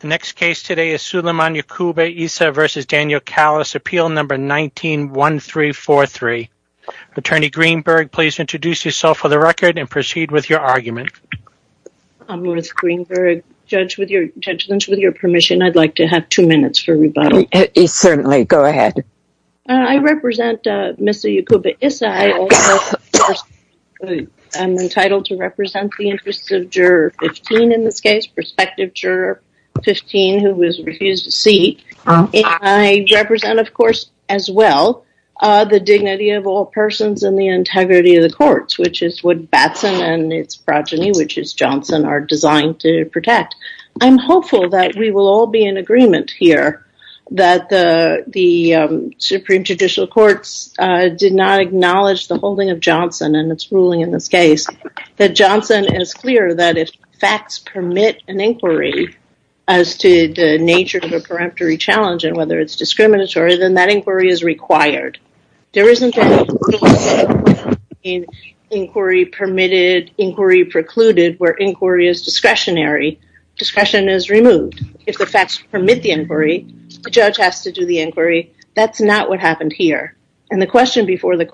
The next case today is Suleiman Yacouba-Issa v. Daniel Calis, appeal number 19-1343. Attorney Greenberg, please introduce yourself for the record and proceed with your argument. I'm Ruth Greenberg. Judge Lynch, with your permission, I'd like to have two minutes for rebuttal. Certainly, go ahead. I represent Ms. Yacouba-Issa. I'm entitled to represent the 15 who was refused a seat. I represent, of course, as well, the dignity of all persons and the integrity of the courts, which is what Batson and its progeny, which is Johnson, are designed to protect. I'm hopeful that we will all be in agreement here that the Supreme Judicial Courts did not acknowledge the holding of Johnson and its ruling in this case, that Johnson is clear that if facts permit an inquiry as to the nature of a peremptory challenge and whether it's discriminatory, then that inquiry is required. There isn't an inquiry permitted, inquiry precluded, where inquiry is discretionary. Discretion is removed. If the facts permit the inquiry, the judge has to do the inquiry. That's not what happened here. The question before the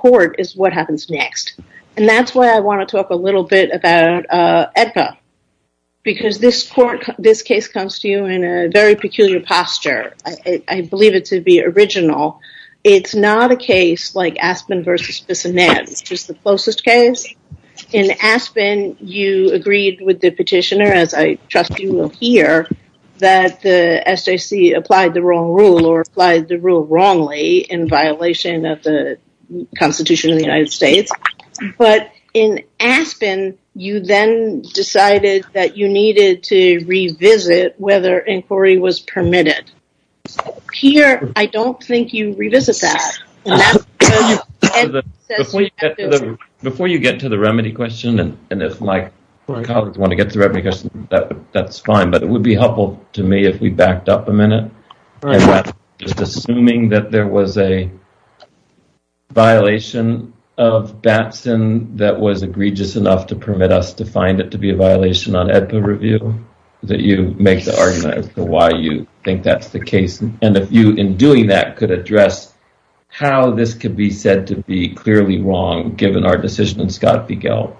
because this case comes to you in a very peculiar posture. I believe it to be original. It's not a case like Aspen versus Bissonnette, which is the closest case. In Aspen, you agreed with the petitioner, as I trust you will hear, that the SJC applied the wrong rule or applied the rule wrongly in violation of the Constitution of the United States. But in Aspen, you then decided that you needed to revisit whether inquiry was permitted. Here, I don't think you revisit that. Before you get to the remedy question, and if my colleagues want to get to the remedy question, that's fine. But it would be helpful to me if we backed up a minute. Just assuming that there was a violation of Batson that was egregious enough to permit us to find it to be a violation on Edpa review, that you make the argument as to why you think that's the case. And if you, in doing that, could address how this could be said to be clearly wrong, given our decision in Scott v. Gelb.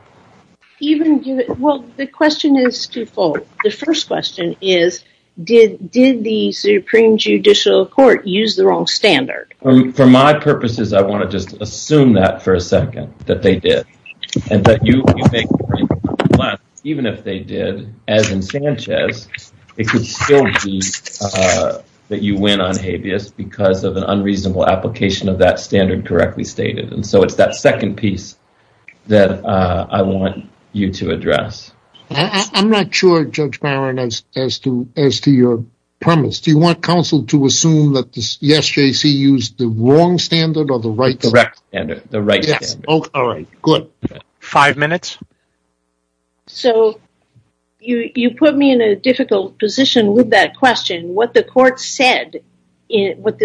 Well, the question is twofold. The first question is, did the Supreme Judicial Court use the wrong standard? For my purposes, I want to just assume that for a second, that they did. And that even if they did, as in Sanchez, it could still be that you win on habeas because of an unreasonable application of that standard correctly stated. And so it's that second piece that I want you to address. I'm not sure, Judge Byron, as to your premise. Do you want counsel to assume that the SJC used the wrong standard or the right standard? The right. All right, good. Five minutes. So you put me in a difficult position with that question. What the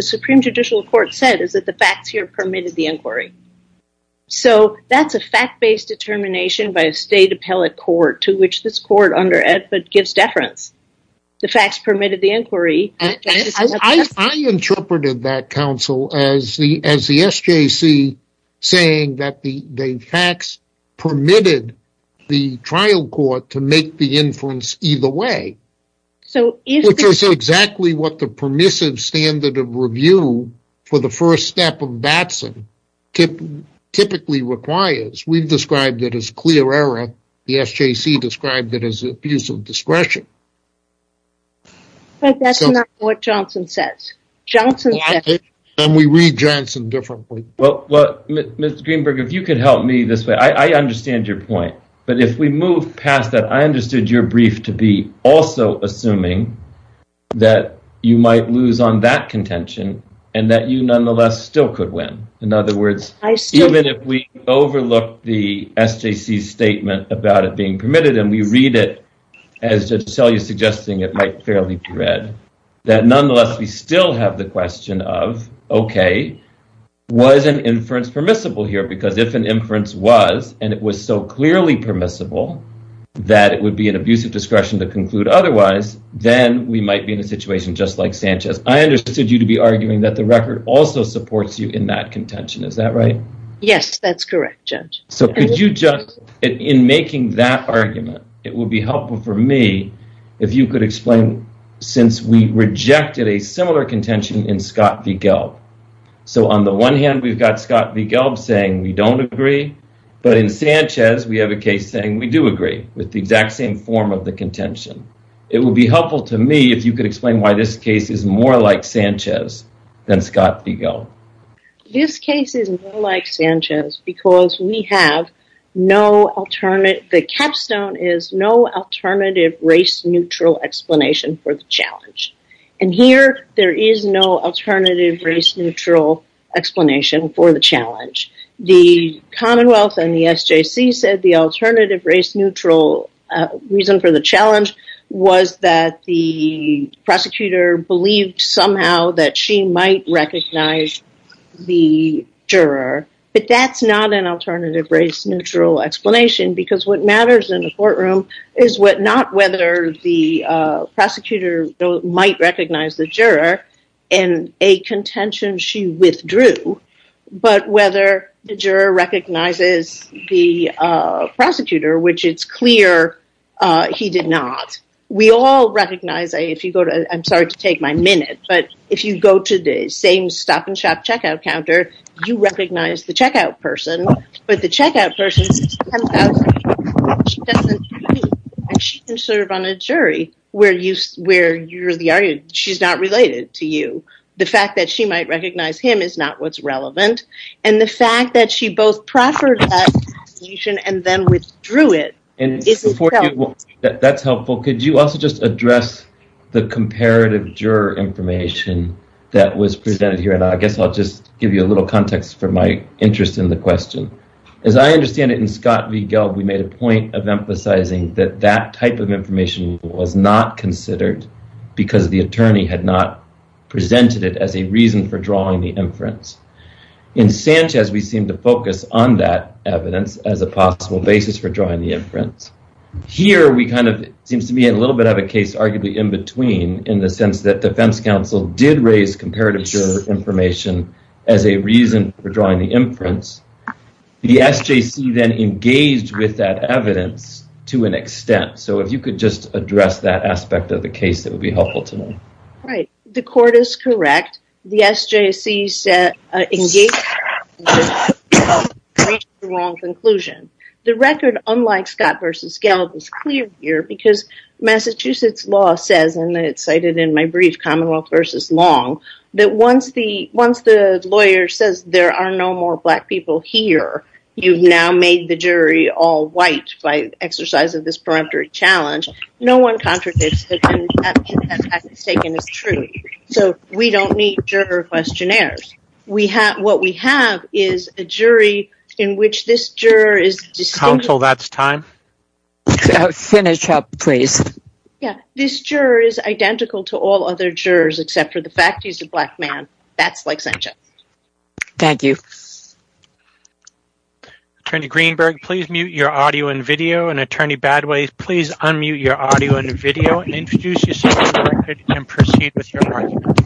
Supreme Judicial Court said is that the facts here permitted the inquiry. So that's a fact-based determination by a state appellate court to which this court under Edpa saying that the facts permitted the trial court to make the inference either way. So it's exactly what the permissive standard of review for the first step of Batson typically requires. We've described it as clear error. The SJC described it as abuse of discretion. But that's not what Johnson says. Johnson says... And we read Johnson differently. Well, Ms. Greenberg, if you could help me this way. I understand your point. But if we move past that, I understood your brief to be also assuming that you might lose on that contention and that you nonetheless still could win. In other words, even if we overlook the SJC statement about it being permitted, and we read it as Judge Selye is suggesting it might fairly be read, that nonetheless, we still have the question of, okay, was an inference permissible here? Because if an inference was, and it was so clearly permissible that it would be an abuse of discretion to conclude otherwise, then we might be in a situation just like Sanchez. I understood you to be arguing that the record also supports you in that contention. Is that right? Yes, that's correct, Judge. So could you in making that argument, it would be helpful for me if you could explain, since we rejected a similar contention in Scott v. Gelb. So on the one hand, we've got Scott v. Gelb saying we don't agree. But in Sanchez, we have a case saying we do agree with the exact same form of the contention. It will be helpful to me if you could explain why this case is more like Sanchez than Scott v. Gelb. This case is more like Sanchez because we have no alternative, the capstone is no alternative race-neutral explanation for the challenge. And here, there is no alternative race-neutral explanation for the challenge. The Commonwealth and the SJC said the alternative race-neutral reason for the challenge was that the prosecutor believed somehow that she might recognize the juror, but that's not an alternative race-neutral explanation because what matters in the courtroom is not whether the prosecutor might recognize the juror in a contention she withdrew, but whether the juror recognizes the prosecutor, which it's clear he did not. We all recognize, if you go to, I'm sorry to take my minute, but if you go to the same stop-and-shop checkout counter, you recognize the checkout person, but the checkout person can serve on a jury where she's not related to you. The fact that she might recognize him is not what's relevant. And the fact that she both proffered that conclusion and then withdrew it. This is helpful. That's helpful. Could you also just address the comparative juror information that was presented here? And I guess I'll just give you a little context for my interest in the question. As I understand it, in Scott v. Gelb, we made a point of emphasizing that that type of information was not considered because the attorney had not presented it as a reason for drawing the inference. In Sanchez, we seem to focus on that evidence as a possible basis for drawing the inference. Here, we kind of, it seems to me a little bit of a case arguably in between in the sense that the defense counsel did raise comparative juror information as a reason for drawing the inference. The SJC then engaged with that evidence to an extent. So, if you could just address that aspect of the case, that would be helpful to me. Right. The court is correct. The SJC engaged with the wrong conclusion. The record, unlike Scott v. Gelb, is clear here because Massachusetts law says, and it's cited in my brief, Commonwealth v. Long, that once the lawyer says there are no more black people here, you've now made the jury all white by exercise of this peremptory challenge. No one contradicts that that mistake is true. So, we don't need juror questionnaires. What we have is a jury in which this juror is distinguished. Counsel, that's time. Finish up, please. Yeah. This juror is identical to all other jurors except for the fact he's a black man. That's like Sanchez. Thank you. Attorney Greenberg, please mute your audio and video, and Attorney Badway, please unmute your audio and video and introduce yourself and proceed with your argument.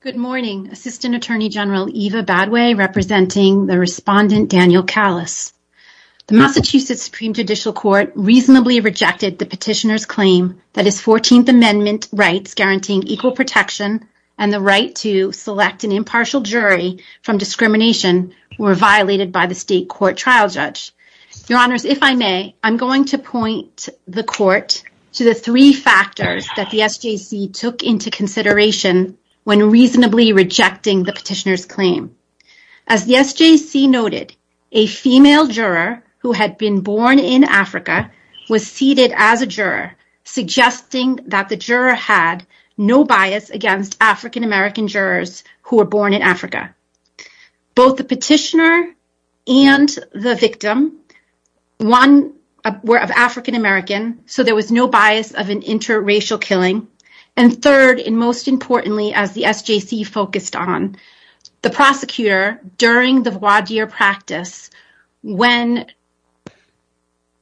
Good morning. Assistant Attorney General Eva Badway representing the respondent Daniel Callas. The Massachusetts Supreme Judicial Court reasonably rejected the petitioner's claim that his 14th Amendment rights guaranteeing equal protection and the right to select an impartial jury from discrimination were violated by the state court trial judge. Your Honors, if I may, I'm going to point the court to the three factors that the SJC took into consideration when reasonably rejecting the petitioner's claim. As the SJC noted, a female juror who had been born in Africa was seated as a juror, suggesting that the juror had no bias against African-American jurors who were born in Africa. Both the petitioner and the victim, one were of African-American, so there was no bias of an interracial killing. And third, and most importantly, as the SJC focused on, the prosecutor during the voir dire practice when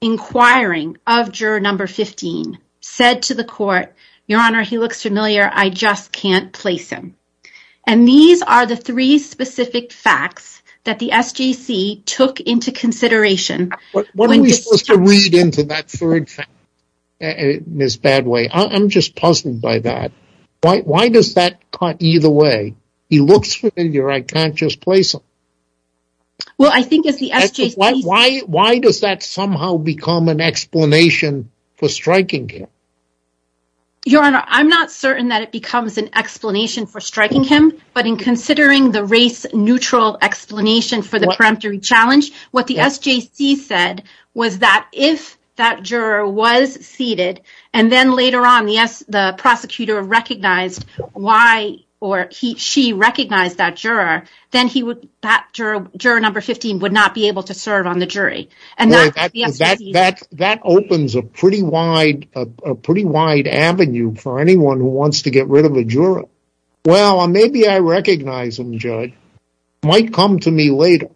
inquiring of juror number 15 said to the court, Your Honor, he looks familiar, I just can't place him. And these are the three specific facts that the SJC took into consideration. What are we supposed to read into that third fact, Ms. Badway? I'm just puzzled by that. Why does that cut either way? He looks familiar, I can't just place him. Well, I think it's the SJC. Why does that somehow become an explanation for striking him? Your Honor, I'm not certain that it becomes an explanation for striking him, but in considering the race-neutral explanation for the preemptory challenge, what the SJC said was that if that juror was seated, and then later on, the prosecutor recognized why or she recognized that juror, then that juror number 15 would not be able to serve on the jury. That opens a pretty wide avenue for anyone who wants to get rid of a juror. Well, maybe I recognize him, Judge. He might come to me later.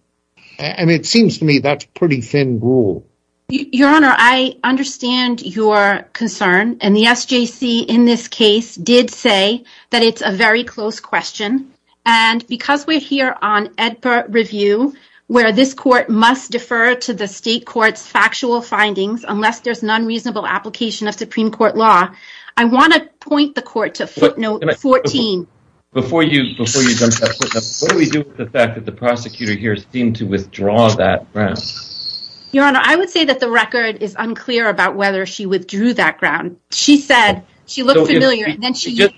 And it seems to me that's a pretty thin rule. Your Honor, I understand your concern. And the SJC in this case did say that it's a very close question. And because we're here on EDPA review, where this court must defer to the state court's factual findings, unless there's an unreasonable application of Supreme Court law, I want to point the court to footnote 14. Before you jump to that footnote, what do we do with the fact that the prosecutor here seemed to withdraw that ground? Your Honor, I would say that the record is unclear about whether she withdrew that ground. She said she looked familiar, and then she...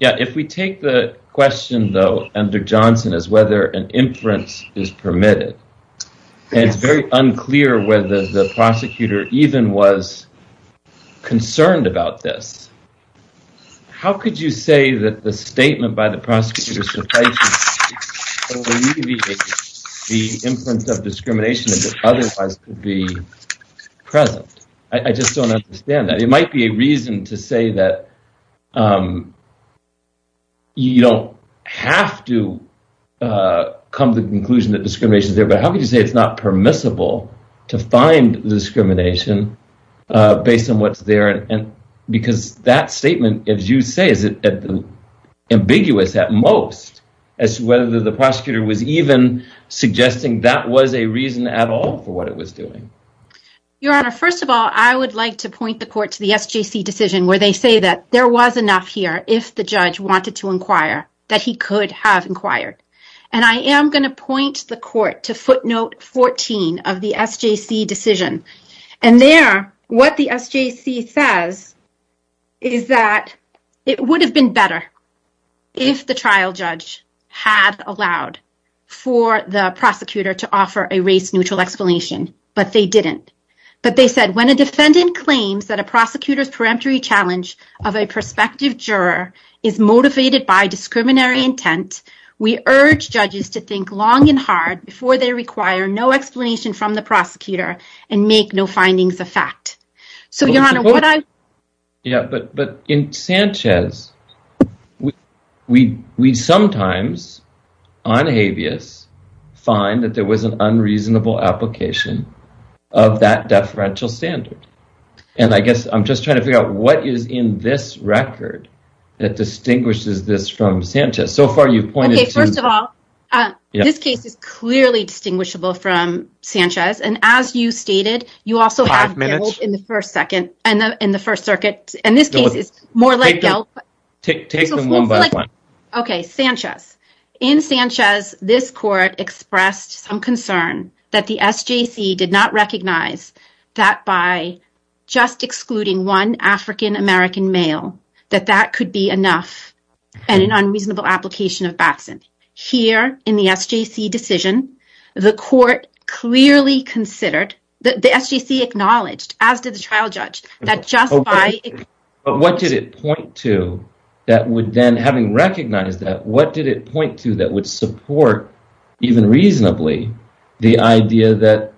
Yeah, if we take the question, though, under Johnson as whether an inference is permitted, it's very unclear whether the prosecutor even was concerned about this. How could you say that the statement by the prosecutor suffices to alleviate the inference of discrimination that otherwise could be present? I just don't understand that. It might be a reason to say that you don't have to come to the conclusion that discrimination is there, but how could you say it's not permissible to find the discrimination based on what's there? Because that statement, as you say, is ambiguous at most as to whether the prosecutor was even suggesting that was a reason at all for what it was doing. Your Honor, first of all, I would like to point the court to the SJC decision, where they say that there was enough here, if the judge wanted to inquire, that he could have inquired. And I am going to point the court to footnote 14 of the SJC decision. And there, what the SJC says is that it would have been better if the trial judge had allowed for the prosecutor to offer a race-neutral explanation, but they didn't. But they said, when a defendant claims that a prosecutor's peremptory challenge of a prospective juror is motivated by discriminatory intent, we urge judges to think long and hard before they require no explanation from the prosecutor and make no findings of fact. So, Your Honor, what I... Yeah, but in Sanchez, we sometimes, on habeas, find that there was an unreasonable application of that deferential standard. And I guess I'm just trying to figure out what is in this record that distinguishes this from Sanchez. So far, you've pointed to... Sanchez. And as you stated, you also have... Five minutes. ...in the First Circuit. In this case, it's more like... Take them one by one. Okay, Sanchez. In Sanchez, this court expressed some concern that the SJC did not recognize that by just excluding one African-American male, that that could be enough and an unreasonable application of Batson. Here, in the SJC decision, the court clearly considered, the SJC acknowledged, as did the trial judge, that just by... But what did it point to that would then, having recognized that, what did it point to that would support, even reasonably, the idea that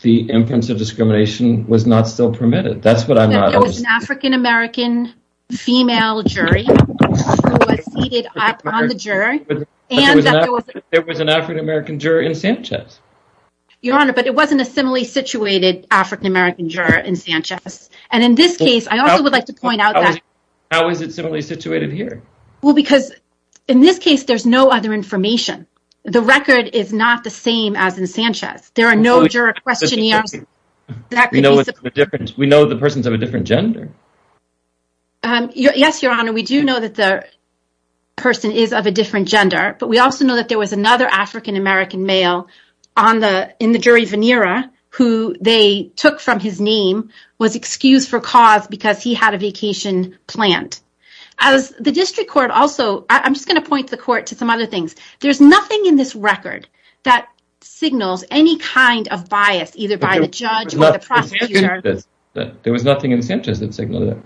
the inference of discrimination was not still permitted? That's what I'm not... There was an African-American female jury who was seated up on the jury and that there was... There was an African-American juror in Sanchez. Your Honor, but it wasn't a similarly situated African-American juror in Sanchez. And in this case, I also would like to point out that... How is it similarly situated here? Well, because in this case, there's no other information. The record is not the same as in Sanchez. There are no juror questionnaires that could be... We know the person's of a different gender. Yes, Your Honor, we do know that the person is of a different gender, but we also know that there was another African-American male in the jury, Venera, who they took from his name, was excused for cause because he had a vacation planned. As the district court also... I'm just going to point the court to some other things. There's nothing in this record that signals any kind of bias, either by the judge or the jury. There was nothing in Sanchez that signaled that.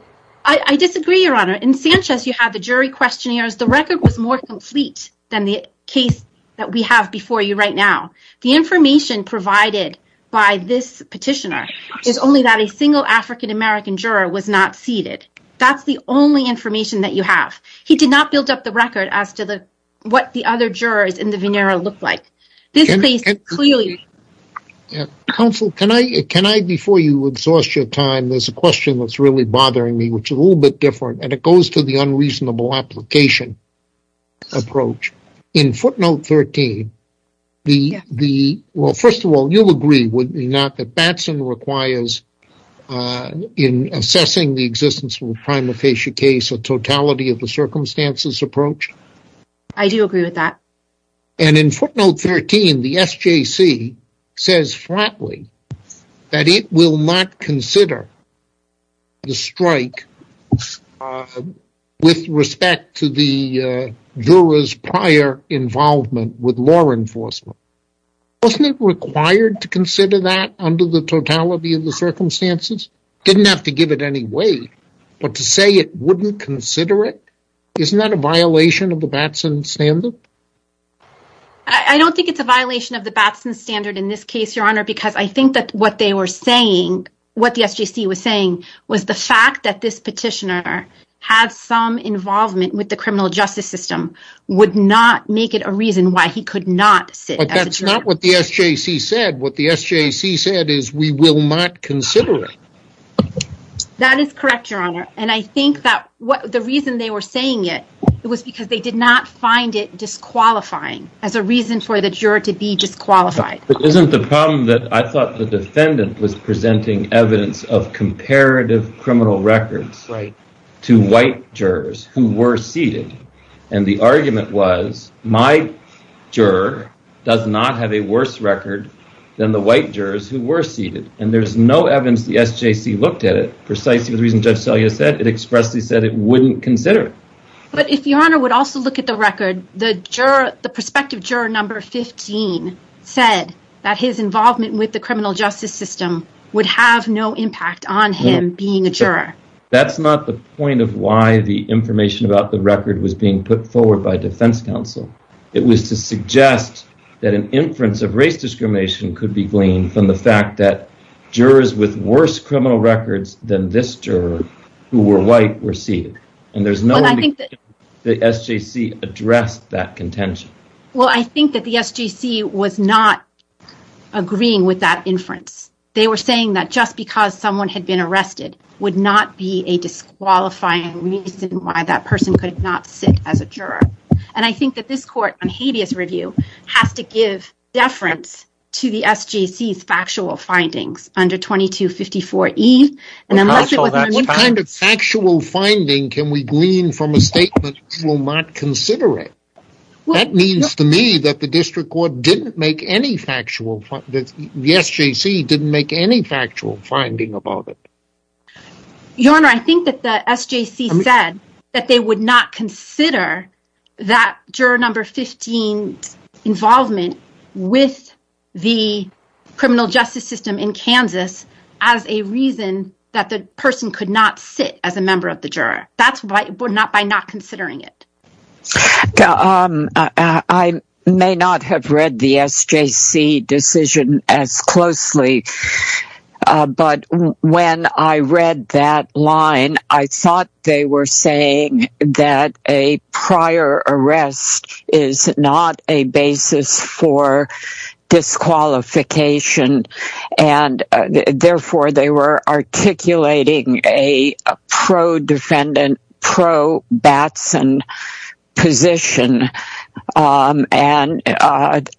I disagree, Your Honor. In Sanchez, you have the jury questionnaires. The record was more complete than the case that we have before you right now. The information provided by this petitioner is only that a single African-American juror was not seated. That's the only information that you have. He did not build up the record as to what the other jurors in the Venera looked like. Counsel, can I, before you exhaust your time, there's a question that's really bothering me, which is a little bit different, and it goes to the unreasonable application approach. In footnote 13, well, first of all, you'll agree, would you not, that Batson requires in assessing the existence of a prima facie case a totality of the circumstances approach? I do agree with that. And in footnote 13, the SJC says flatly that it will not consider the strike with respect to the juror's prior involvement with law enforcement. Wasn't it required to consider that under the totality of the circumstances? Didn't have to give it any weight, but to say it wouldn't consider it, isn't that a violation of the Batson standard? I don't think it's a violation of the Batson standard in this case, Your Honor, because I think that what they were saying, what the SJC was saying was the fact that this petitioner had some involvement with the criminal justice system would not make it a reason why he could not sit as a juror. But that's not what the SJC said. What the SJC said is we will not consider it. That is correct, Your Honor. And I think that what the reason they were saying it, it was because they did not find it disqualifying as a reason for the juror to be disqualified. It isn't the problem that I thought the defendant was presenting evidence of comparative criminal records to white jurors who were seated. And the argument was my juror does not have a worse record than the white jurors who were seated. And there's no evidence the SJC looked at it precisely the reason Judge Selya said, it expressly said it wouldn't consider it. But if Your Honor would also look at the record, the juror, the prospective juror number 15 said that his involvement with the criminal justice system would have no impact on him being a juror. That's not the point of why the information about the record was being put forward by defense counsel. It was to suggest that an inference of race discrimination could be gleaned from the fact that jurors with worse criminal records than this juror who were white were seated. And there's no way the SJC addressed that contention. Well, I think that the SJC was not agreeing with that inference. They were saying that just because someone had been arrested would not be a disqualifying reason why that person could not sit as a juror. And I think that this court on habeas review has to give deference to the SJC's factual findings under 2254E. And what kind of factual finding can we glean from a statement that will not consider it? That means to me that the district court didn't make any factual, the SJC didn't make any factual finding about it. Your Honor, I think that the SJC said that they would not consider that juror number 15's involvement with the criminal justice system in Kansas as a reason that the person could not sit as a member of the juror. That's by not considering it. Um, I may not have read the SJC decision as closely. But when I read that line, I thought they were saying that a prior arrest is not a basis for disqualification. And therefore, they were articulating a pro-defendant, pro-Batson position. And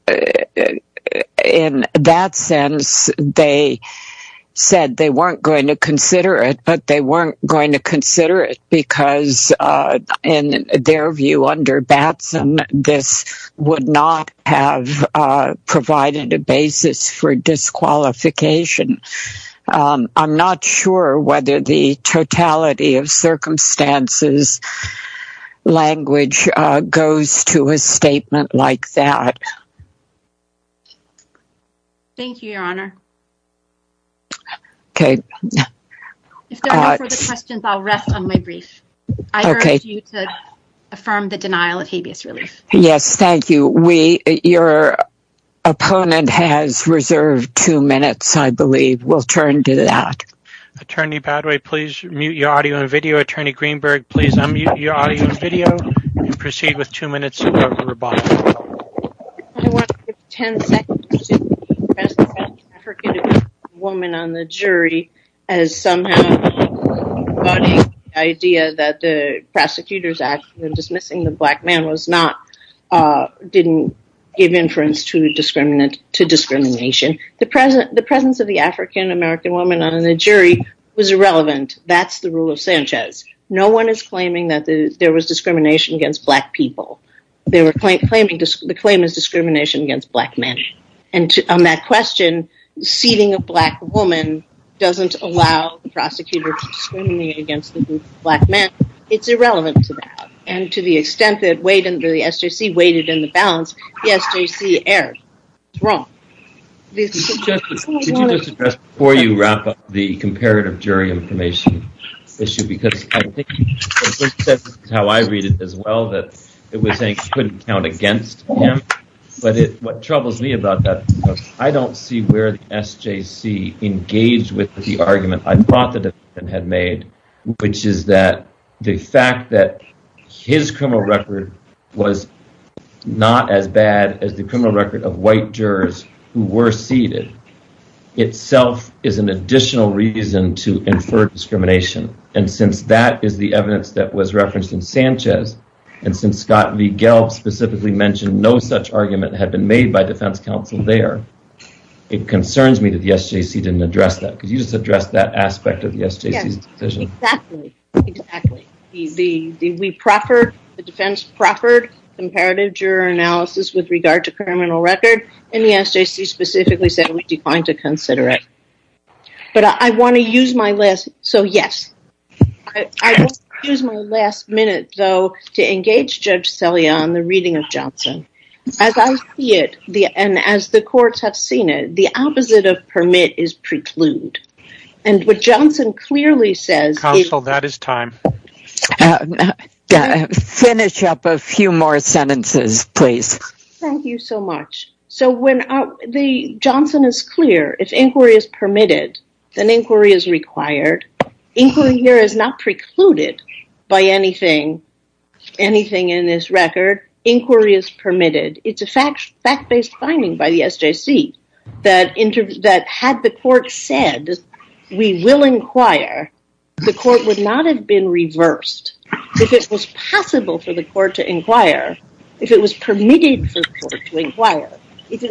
in that sense, they said they weren't going to consider it, but they weren't going to consider it because in their view under Batson, this would not have provided a basis for disqualification. I'm not sure whether the totality of circumstances language goes to a statement like that. Thank you, Your Honor. Okay. If there are no further questions, I'll rest on my brief. I urge you to affirm the denial of Attorney Badaway, please mute your audio and video. Attorney Greenberg, please unmute your audio and video and proceed with two minutes of rebuttal. I want to give 10 seconds to the presence of an African-American woman on the jury as somehow embodying the idea that the Prosecutor's Act for dismissing the black man didn't give inference to discrimination. The presence of the African-American woman on the jury was irrelevant. That's the rule of Sanchez. No one is claiming that there was discrimination against black people. The claim is discrimination against black men. And on that question, seating a black woman doesn't allow the prosecutor to discriminate against the black man. It's the SJC error. It's wrong. Before you wrap up the comparative jury information issue, because I think how I read it as well, that it was saying couldn't count against him. But what troubles me about that, I don't see where the SJC engaged with the argument I thought the defendant had made, which is that the fact that his criminal record was not as bad as the criminal record of white jurors who were seated, itself is an additional reason to infer discrimination. And since that is the evidence that was referenced in Sanchez, and since Scott V. Gelb specifically mentioned no such argument had been made by defense counsel there, it concerns me that the SJC didn't address that. Because you just addressed that aspect of the SJC's decision. Yes, exactly. The defense proffered comparative juror analysis with regard to criminal record, and the SJC specifically said we declined to consider it. But I want to use my last... So, yes. I will use my last minute, though, to engage Judge Selye on the reading of Johnson. As I see it, and as the courts have seen it, the opposite of permit is preclude. And what Johnson clearly says... Counsel, that is time. Finish up a few more sentences, please. Thank you so much. So, when Johnson is clear, if inquiry is permitted, then inquiry is required. Inquiry here is not precluded by anything in this it's a fact-based finding by the SJC that had the court said, we will inquire, the court would not have been reversed. If it was possible for the court to inquire, if it was permitted for the court to inquire, if the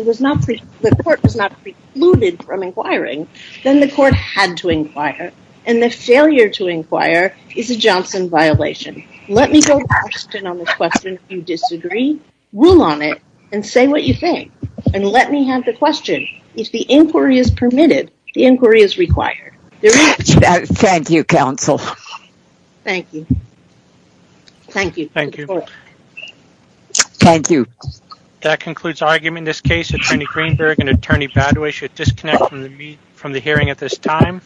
court was not precluded from inquiring, then the court had to inquire. And the failure to inquire is a Johnson violation. Let me go to question on this question. If you disagree, rule on it and say what you think. And let me have the question. If the inquiry is permitted, the inquiry is required. Thank you, counsel. Thank you. Thank you. Thank you. That concludes argument in this case. Attorney Greenberg and Attorney Badawi should disconnect from the hearing at this time.